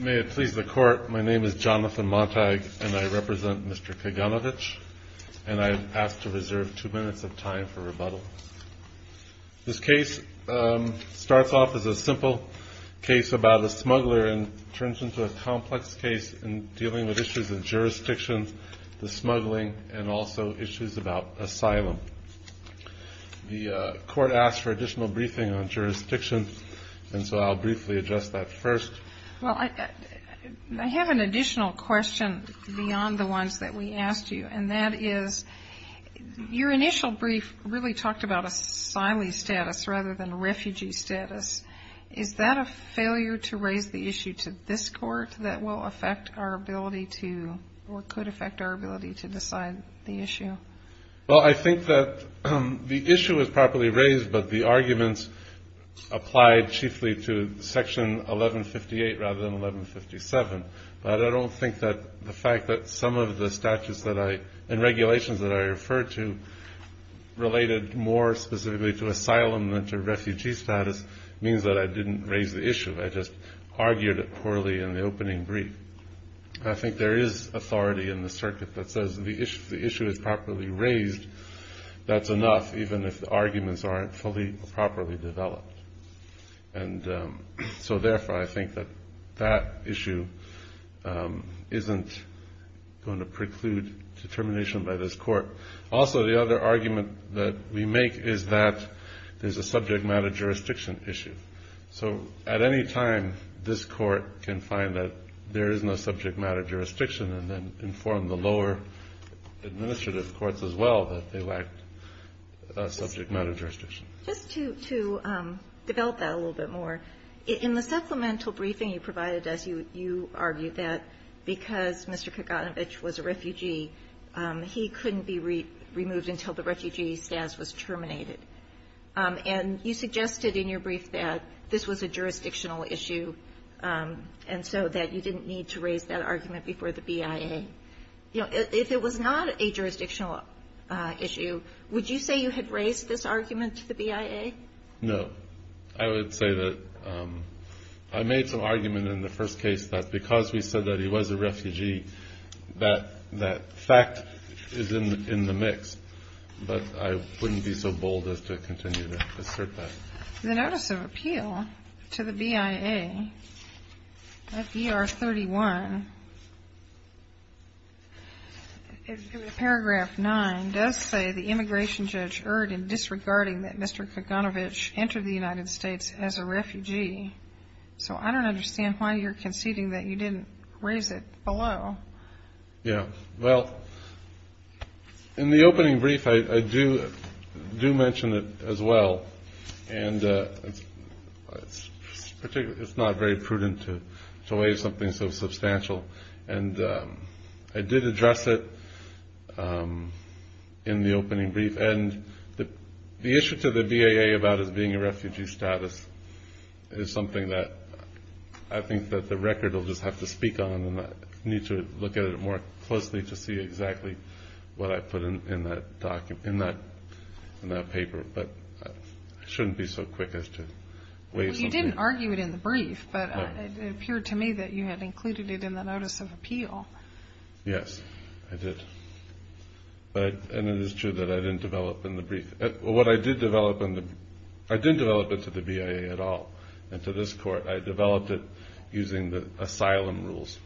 May it please the Court, my name is Jonathan Montag and I represent Mr. Kaganovich and I have asked to reserve two minutes of time for rebuttal. This case starts off as a simple case about a smuggler and turns into a complex case in dealing with issues of jurisdiction, the smuggling, and also issues about asylum. The Court asked for additional briefing on jurisdiction, and so I'll briefly address that first. Well, I have an additional question beyond the ones that we asked you, and that is, your initial brief really talked about asylee status rather than refugee status. Is that a failure to raise the issue to this Court that will affect our ability to, Well, I think that the issue is properly raised, but the arguments applied chiefly to Section 1158 rather than 1157. But I don't think that the fact that some of the statutes and regulations that I referred to related more specifically to asylum than to refugee status means that I didn't raise the issue. I just argued it poorly in the opening brief. I think there is authority in the circuit that says the issue is properly raised. That's enough, even if the arguments aren't fully or properly developed. And so therefore, I think that that issue isn't going to preclude determination by this Court. Also, the other argument that we make is that there's a subject matter jurisdiction issue. So at any time, this Court can find that there is no subject matter jurisdiction and then inform the lower administrative courts as well that they lack a subject matter jurisdiction. Just to develop that a little bit more, in the supplemental briefing you provided us, you argued that because Mr. Kaganovich was a refugee, he couldn't be removed until the refugee status was terminated. And you suggested in your brief that this was a jurisdictional issue and so that you didn't need to raise that argument before the BIA. If it was not a jurisdictional issue, would you say you had raised this argument to the BIA? No. I would say that I made some argument in the first case that because we said that he was a refugee, that fact is in the mix. But I wouldn't be so bold as to continue to assert that. The Notice of Appeal to the BIA at BR 31, paragraph 9, does say the immigration judge erred in disregarding that Mr. Kaganovich entered the United States as a refugee. So I don't understand why you're conceding that you didn't raise it below. Yeah. Well, in the opening brief, I do mention it as well. And it's not very prudent to raise something so substantial. And I did address it in the opening brief. And the issue to the BIA about his being a refugee status is something that I think that the record will just have to speak on. And I need to look at it more closely to see exactly what I put in that paper. But I shouldn't be so quick as to raise something. Well, you didn't argue it in the brief, but it appeared to me that you had included it in the Notice of Appeal. Yes, I did. And it is true that I didn't develop it to the BIA at all. And to this court, I developed it using the asylum rules.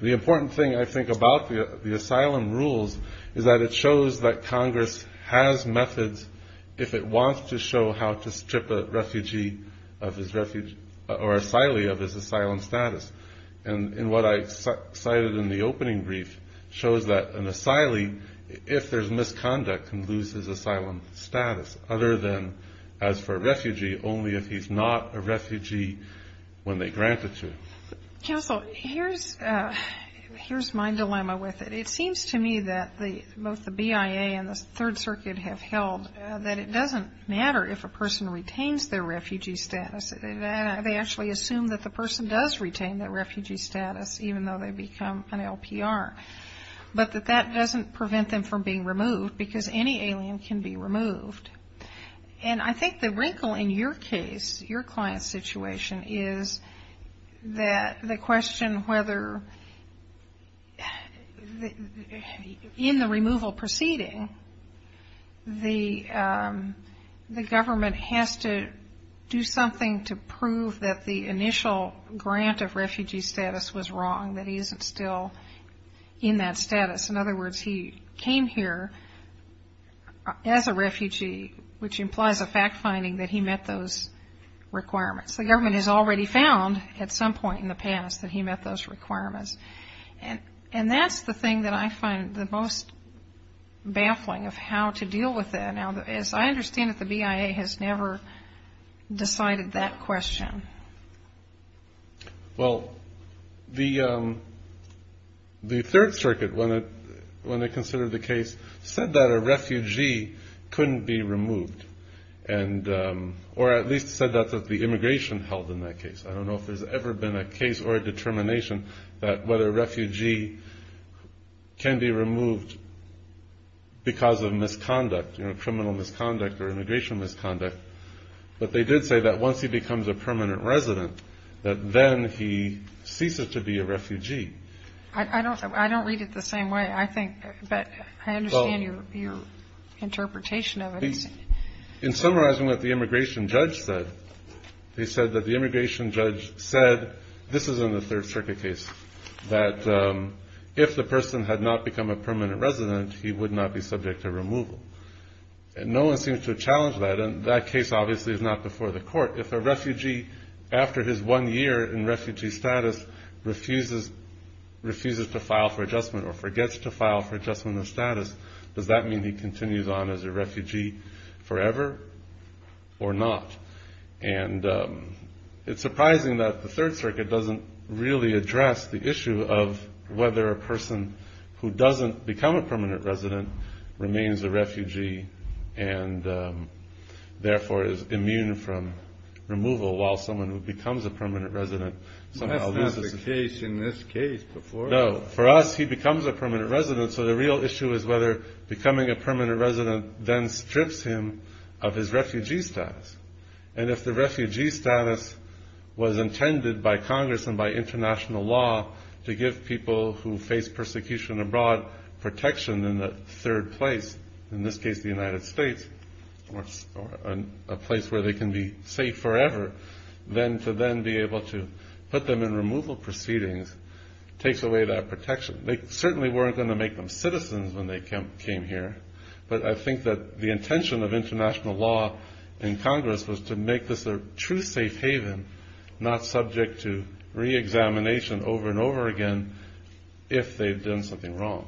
The important thing, I think, about the asylum rules is that it shows that Congress has methods if it wants to show how to strip a refugee or asylee of his asylum status. And what I cited in the opening brief shows that an asylee, if there's misconduct, can lose his asylum status other than as for a refugee, only if he's not a refugee when they grant it to him. Counsel, here's my dilemma with it. It seems to me that both the BIA and the Third Circuit have held that it doesn't matter if a person retains their refugee status. They actually assume that the person does retain their refugee status, even though they become an LPR. But that that doesn't prevent them from being removed, because any alien can be removed. And I think the wrinkle in your case, your client's situation, is that the question whether in the removal proceeding, the government has to do something to prove that the initial grant of refugee status was wrong, that he isn't still in that status. In other words, he came here as a refugee, which implies a fact finding that he met those requirements. The government has already found at some point in the past that he met those requirements. And that's the thing that I find the most baffling of how to deal with that. Now, as I understand it, the BIA has never decided that question. Well, the Third Circuit, when it considered the case, said that a refugee couldn't be removed, or at least said that the immigration held in that case. I don't know if there's ever been a case or a determination that whether a refugee can be removed because of misconduct, criminal misconduct or immigration misconduct. But they did say that once he becomes a permanent resident, that then he ceases to be a refugee. I don't read it the same way, I think. But I understand your interpretation of it. In summarizing what the immigration judge said, he said that the immigration judge said, this is in the Third Circuit case, that if the person had not become a permanent resident, he would not be subject to removal. And no one seems to challenge that. Therefore, if a refugee, after his one year in refugee status, refuses to file for adjustment, or forgets to file for adjustment of status, does that mean he continues on as a refugee forever, or not? And it's surprising that the Third Circuit doesn't really address the issue of whether a person who doesn't become a permanent resident remains a refugee and therefore is immune from removal, while someone who becomes a permanent resident somehow loses it. That's not the case in this case. No, for us, he becomes a permanent resident, so the real issue is whether becoming a permanent resident then strips him of his refugee status. And if the refugee status was intended by Congress and by international law to give people who face persecution abroad protection in the third place, in this case the United States, a place where they can be safe forever, then to then be able to put them in removal proceedings takes away that protection. They certainly weren't going to make them citizens when they came here, but I think that the intention of international law in Congress was to make this a true safe haven, not subject to reexamination over and over again if they've done something wrong.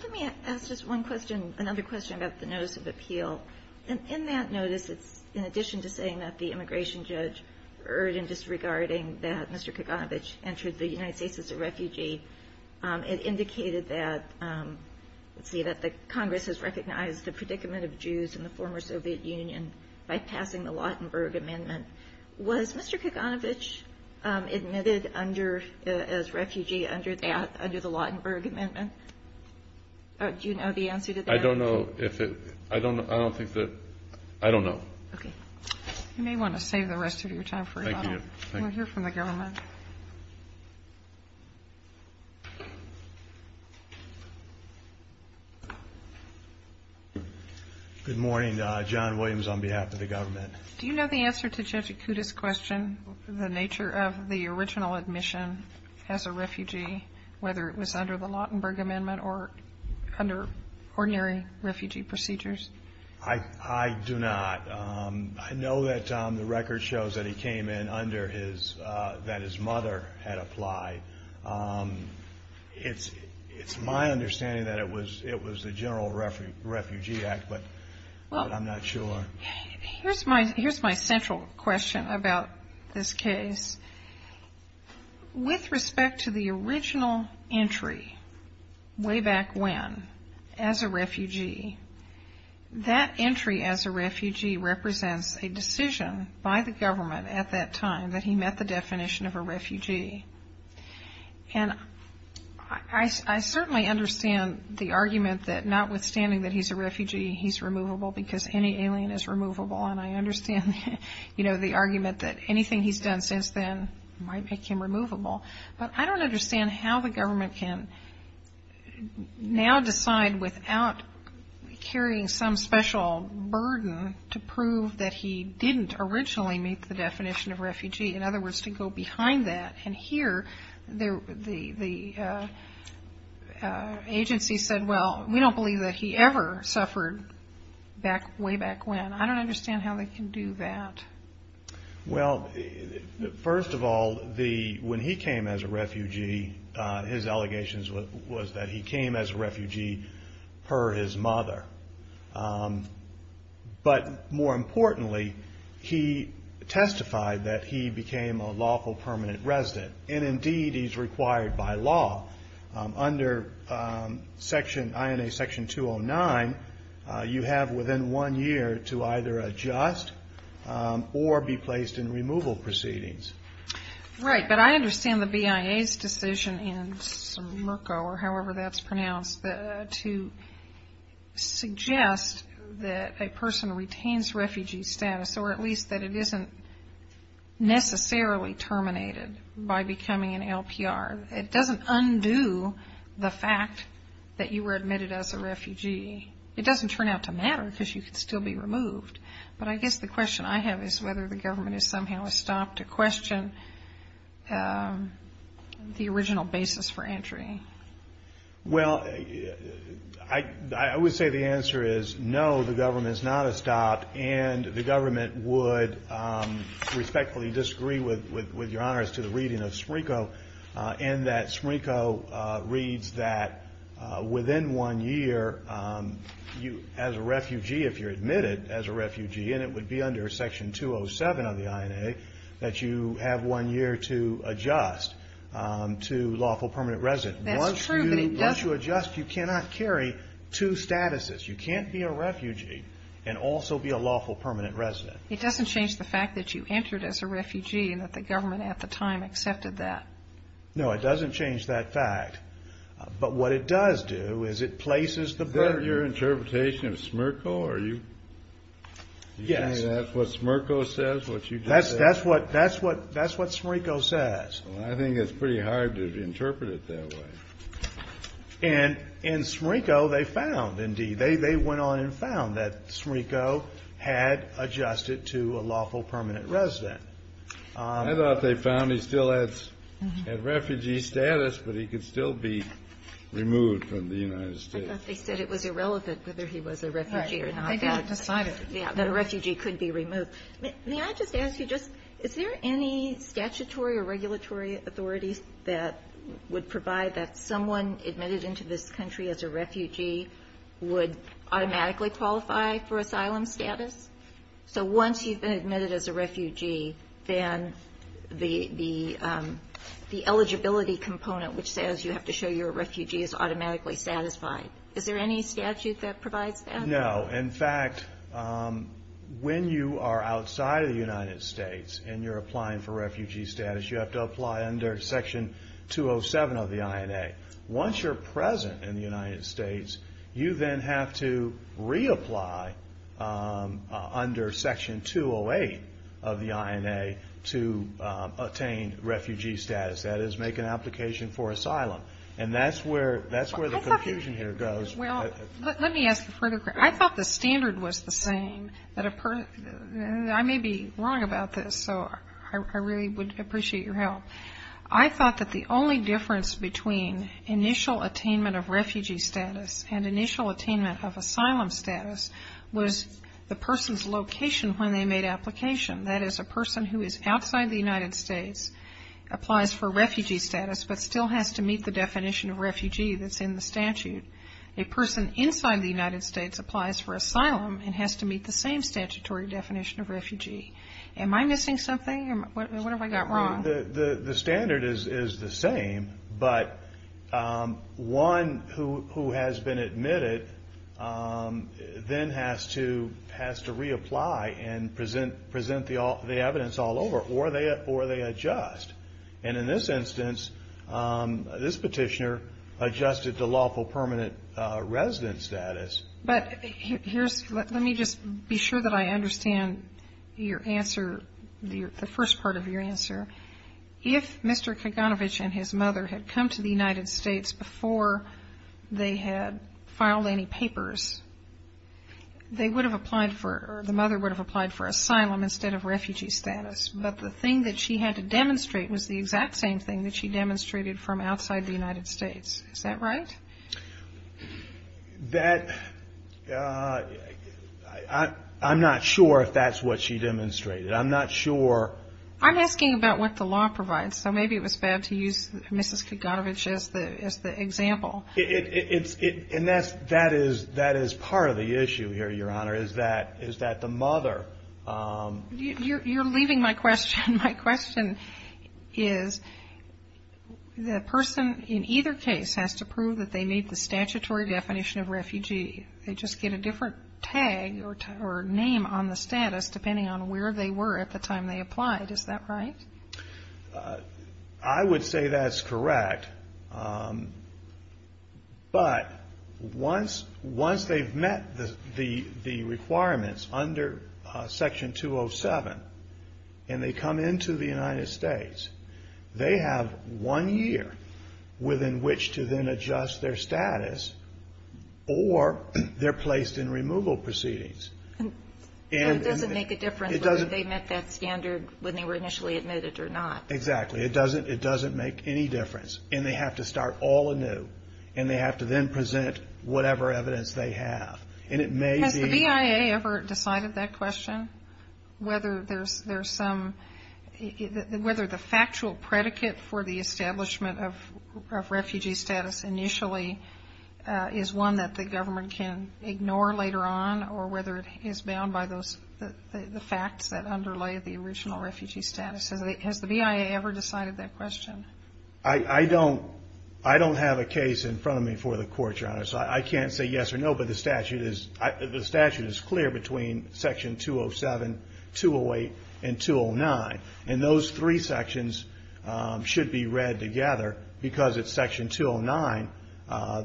Let me ask just one question, another question about the Notice of Appeal. In that notice, it's in addition to saying that the immigration judge erred in disregarding that Mr. Kaganovich entered the United States as a refugee, it indicated that the Congress has recognized the predicament of Jews in the former Soviet Union by passing the Lautenberg Amendment. Was Mr. Kaganovich admitted as refugee under the Lautenberg Amendment? Do you know the answer to that? I don't know. I don't know. Good morning, John Williams on behalf of the government. Do you know the answer to Judge Acuda's question, the nature of the original admission as a refugee, whether it was under the Lautenberg Amendment or under ordinary refugee procedures? I do not. I know that the record shows that he came in under his, that his mother had applied. It's my understanding that it was the General Refugee Act, but I'm not sure. Here's my central question about this case. With respect to the original entry way back when as a refugee, that entry as a refugee represents a decision by the government at that time that he met the definition of a refugee. And I certainly understand the argument that notwithstanding that he's a refugee, he's removable because any alien is removable. And I understand, you know, the argument that anything he's done since then might make him removable. But I don't understand how the government can now decide without carrying some special burden to prove that he didn't originally meet the definition of refugee, in other words, to go behind that. And here the agency said, well, we don't believe that he ever suffered way back when. I don't understand how they can do that. Well, first of all, when he came as a refugee, his allegations was that he came as a refugee per his mother. But more importantly, he testified that he became a lawful permanent resident. And indeed, he's required by law. Under section, INA section 209, you have within one year to either adjust or be placed in removal proceedings. Right. But I understand the BIA's decision in Somerco, or however that's pronounced, to suggest that a person retains refugee status, or at least that it isn't necessarily terminated by becoming an LPR. It doesn't undo the fact that you were admitted as a refugee. It doesn't turn out to matter because you could still be removed. But I guess the question I have is whether the government is somehow a stop to question the original basis for entry. Well, I would say the answer is no, the government's not a stop, and the government would respectfully disagree with your honors to the reading of Somerco. And that Somerco reads that within one year, as a refugee, if you're admitted as a refugee, and it would be under section 207 of the INA, that you have one year to adjust to lawful permanent resident. Once you adjust, you cannot carry two statuses. You can't be a refugee and also be a lawful permanent resident. It doesn't change the fact that you entered as a refugee and that the government at the time accepted that. No, it doesn't change that fact. But what it does do is it places the burden. Is that your interpretation of Somerco? Yes. That's what Somerco says. I think it's pretty hard to interpret it that way. And in Somerco, they went on and found that Somerco had adjusted to a lawful permanent resident. I thought they found he still had refugee status, but he could still be removed from the United States. They said it was irrelevant whether he was a refugee or not. May I just ask you, is there any statutory or regulatory authority that would provide that someone admitted into this country as a refugee would automatically qualify for asylum status? So once you've been admitted as a refugee, then the eligibility component, which says you have to show you're a refugee, is automatically satisfied. Is there any statute that provides that? No. In fact, when you are outside of the United States and you're applying for refugee status, you have to apply under Section 207 of the INA. Once you're present in the United States, you then have to reapply under Section 208 of the INA to attain refugee status, that is, make an application for asylum. And that's where the confusion here goes. Well, let me ask a further question. I thought the standard was the same. I may be wrong about this, so I really would appreciate your help. I thought that the only difference between initial attainment of refugee status and initial attainment of asylum status was the person's location when they made application. That is, a person who is outside the United States applies for refugee status, but still has to meet the definition of refugee that's in the statute. A person inside the United States applies for asylum and has to meet the same statutory definition of refugee. Am I missing something, or what have I got wrong? The standard is the same, but one who has been admitted then has to reapply and present the evidence all over, or they adjust. And in this instance, this petitioner adjusted to lawful permanent resident status. But here's, let me just be sure that I understand your answer, the first part of your answer. If Mr. Kaganovich and his mother had come to the United States before they had filed any papers, they would have applied for, or the mother would have applied for asylum instead of refugee status. But the thing that she had to demonstrate was the exact same thing that she demonstrated from outside the United States, is that right? That, I'm not sure if that's what she demonstrated. I'm not sure. I'm asking about what the law provides, so maybe it was bad to use Mrs. Kaganovich as the example. And that is part of the issue here, Your Honor, is that the mother. You're leaving my question. My question is, the person in either case has to prove that they meet the statutory definition of refugee. They just get a different tag or name on the status depending on where they were at the time they applied. Is that right? I would say that's correct. But once they've met the requirements under Section 207 and they come into the United States, they have one year within which to then adjust their status or they're placed in removal proceedings. It doesn't make a difference whether they met that standard when they were initially admitted or not. Exactly. It doesn't make any difference. And they have to start all anew and they have to then present whatever evidence they have. Has the BIA ever decided that question, whether the factual predicate for the establishment of refugee status initially is one that the government can ignore later on or whether it is bound by the facts that underlay the original refugee status? Has the BIA ever decided that question? I don't have a case in front of me for the Court, Your Honor, so I can't say yes or no. But the statute is clear between Section 207, 208, and 209. And those three sections should be read together because it's Section 209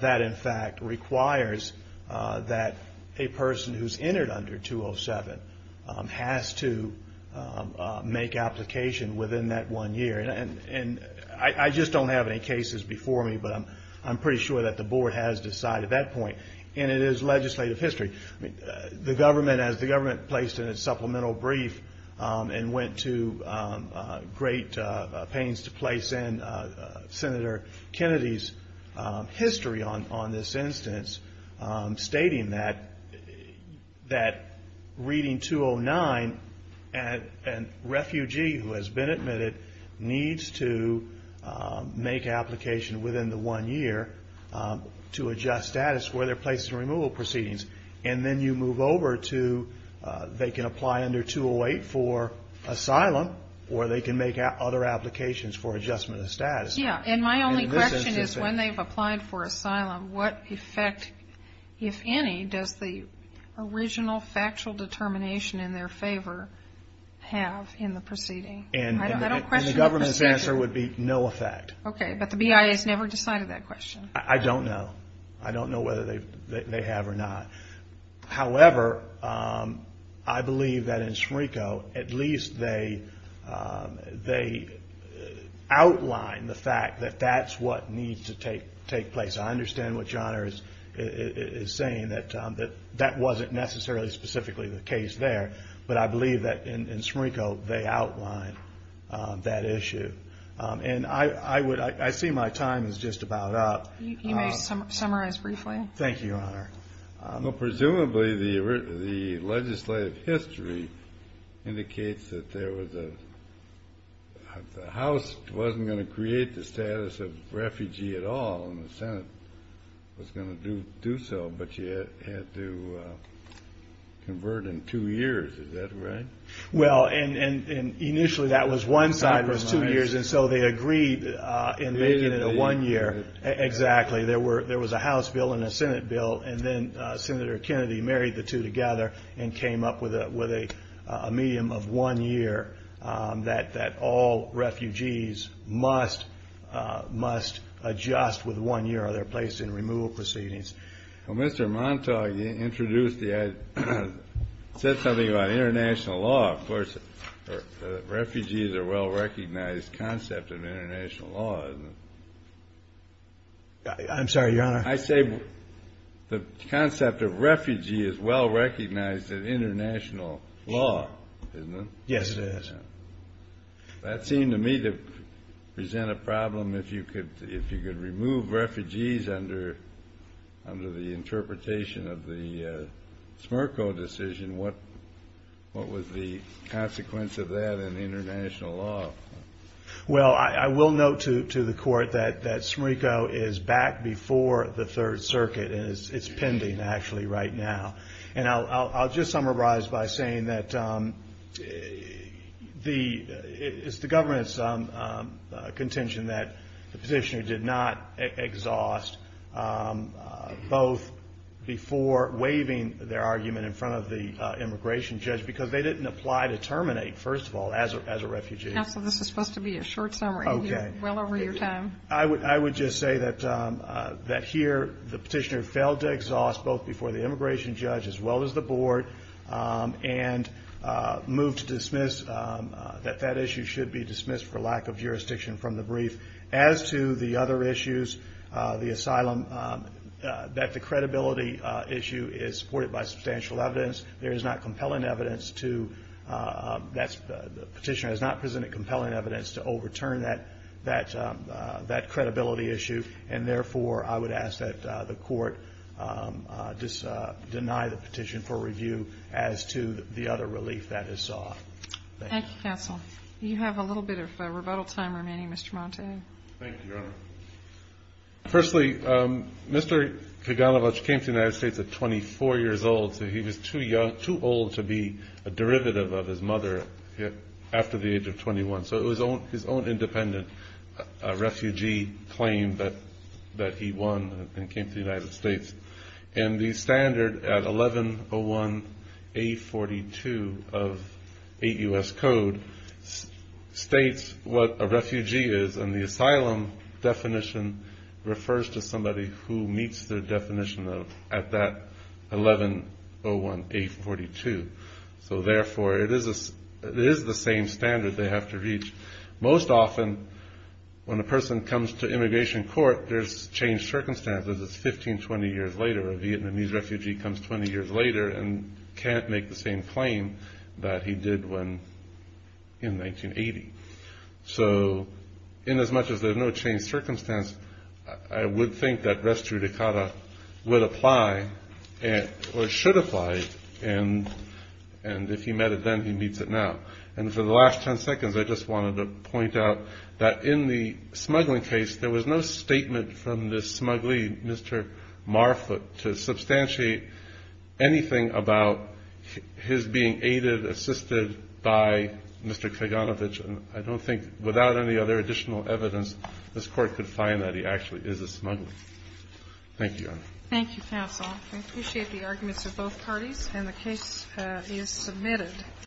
that, in fact, requires that a person who's entered under 207 has to make applications within that one year. And I just don't have any cases before me, but I'm pretty sure that the Board has decided that point. And it is legislative history. The government, as the government placed in its supplemental brief and went to great pains to place in Senator Kennedy's history on this instance, stating that reading 209, a refugee who has been admitted needs to make an application within the one year to adjust status for their place in removal proceedings. And then you move over to they can apply under 208 for asylum or they can make other applications for adjustment of status. Yeah. And my only question is when they've applied for asylum, what effect, if any, does the original federal statute have on that? What effect does factual determination in their favor have in the proceeding? And the government's answer would be no effect. Okay. But the BIA has never decided that question. I don't know. I don't know whether they have or not. However, I believe that in SMRCO, at least they outline the fact that that's what needs to take place. I understand what John is saying, that that wasn't necessarily specifically the case there. But I believe that in SMRCO, they outline that issue. And I see my time is just about up. You may summarize briefly. Thank you, Your Honor. Presumably the legislative history indicates that there was a house wasn't going to create the status of refugee at all. And the Senate was going to do so, but you had to convert in two years. Is that right? Well, and initially that was one side was two years. And so they agreed in making it a one year. Exactly. There was a House bill and a Senate bill. And then Senator Kennedy married the two together and came up with a medium of one year that all refugees must adjust with one year of their place in removal proceedings. Well, Mr. Montauk, you said something about international law. Well, of course, refugees are a well-recognized concept of international law, isn't it? I'm sorry, Your Honor. I say the concept of refugee is well-recognized in international law, isn't it? Yes, it is. That seemed to me to present a problem. If you could remove refugees under the interpretation of the SMERCO decision, what was the consequence of that in international law? Well, I will note to the Court that SMERCO is back before the Third Circuit and it's pending actually right now. And I'll just summarize by saying that it's the government's contention that the SMERCO bill is a good bill. The petitioner did not exhaust both before waiving their argument in front of the immigration judge because they didn't apply to terminate, first of all, as a refugee. Counsel, this is supposed to be a short summary and you're well over your time. I would just say that here the petitioner failed to exhaust both before the immigration judge as well as the board and moved to dismiss that that issue should be dismissed for lack of jurisdiction from the brief. As to the other issues, the asylum, that the credibility issue is supported by substantial evidence. There is not compelling evidence to, the petitioner has not presented compelling evidence to overturn that credibility issue. And therefore, I would ask that the Court deny the petition for review as to the other relief that is sought. Thank you, Counsel. You have a little bit of rebuttal time remaining, Mr. Montague. Thank you, Your Honor. Firstly, Mr. Kaganovich came to the United States at 24 years old, so he was too old to be a derivative of his mother after the age of 21. So it was his own independent refugee claim that he won and came to the United States. The 8 U.S. Code states what a refugee is and the asylum definition refers to somebody who meets the definition at that 1101A42. So therefore, it is the same standard they have to reach. Most often, when a person comes to immigration court, there's changed circumstances. It's 15, 20 years later, a Vietnamese refugee comes 20 years later and can't make the same claim that he did when he came to the United States. So in as much as there's no changed circumstance, I would think that res judicata would apply, or should apply, and if he met it then, he meets it now. And for the last 10 seconds, I just wanted to point out that in the smuggling case, there was no statement from this smuggler, Mr. Marfoot, to substantiate anything about his being aided, assisted, or helped in the smuggling case. By Mr. Kaganovich, I don't think, without any other additional evidence, this Court could find that he actually is a smuggler.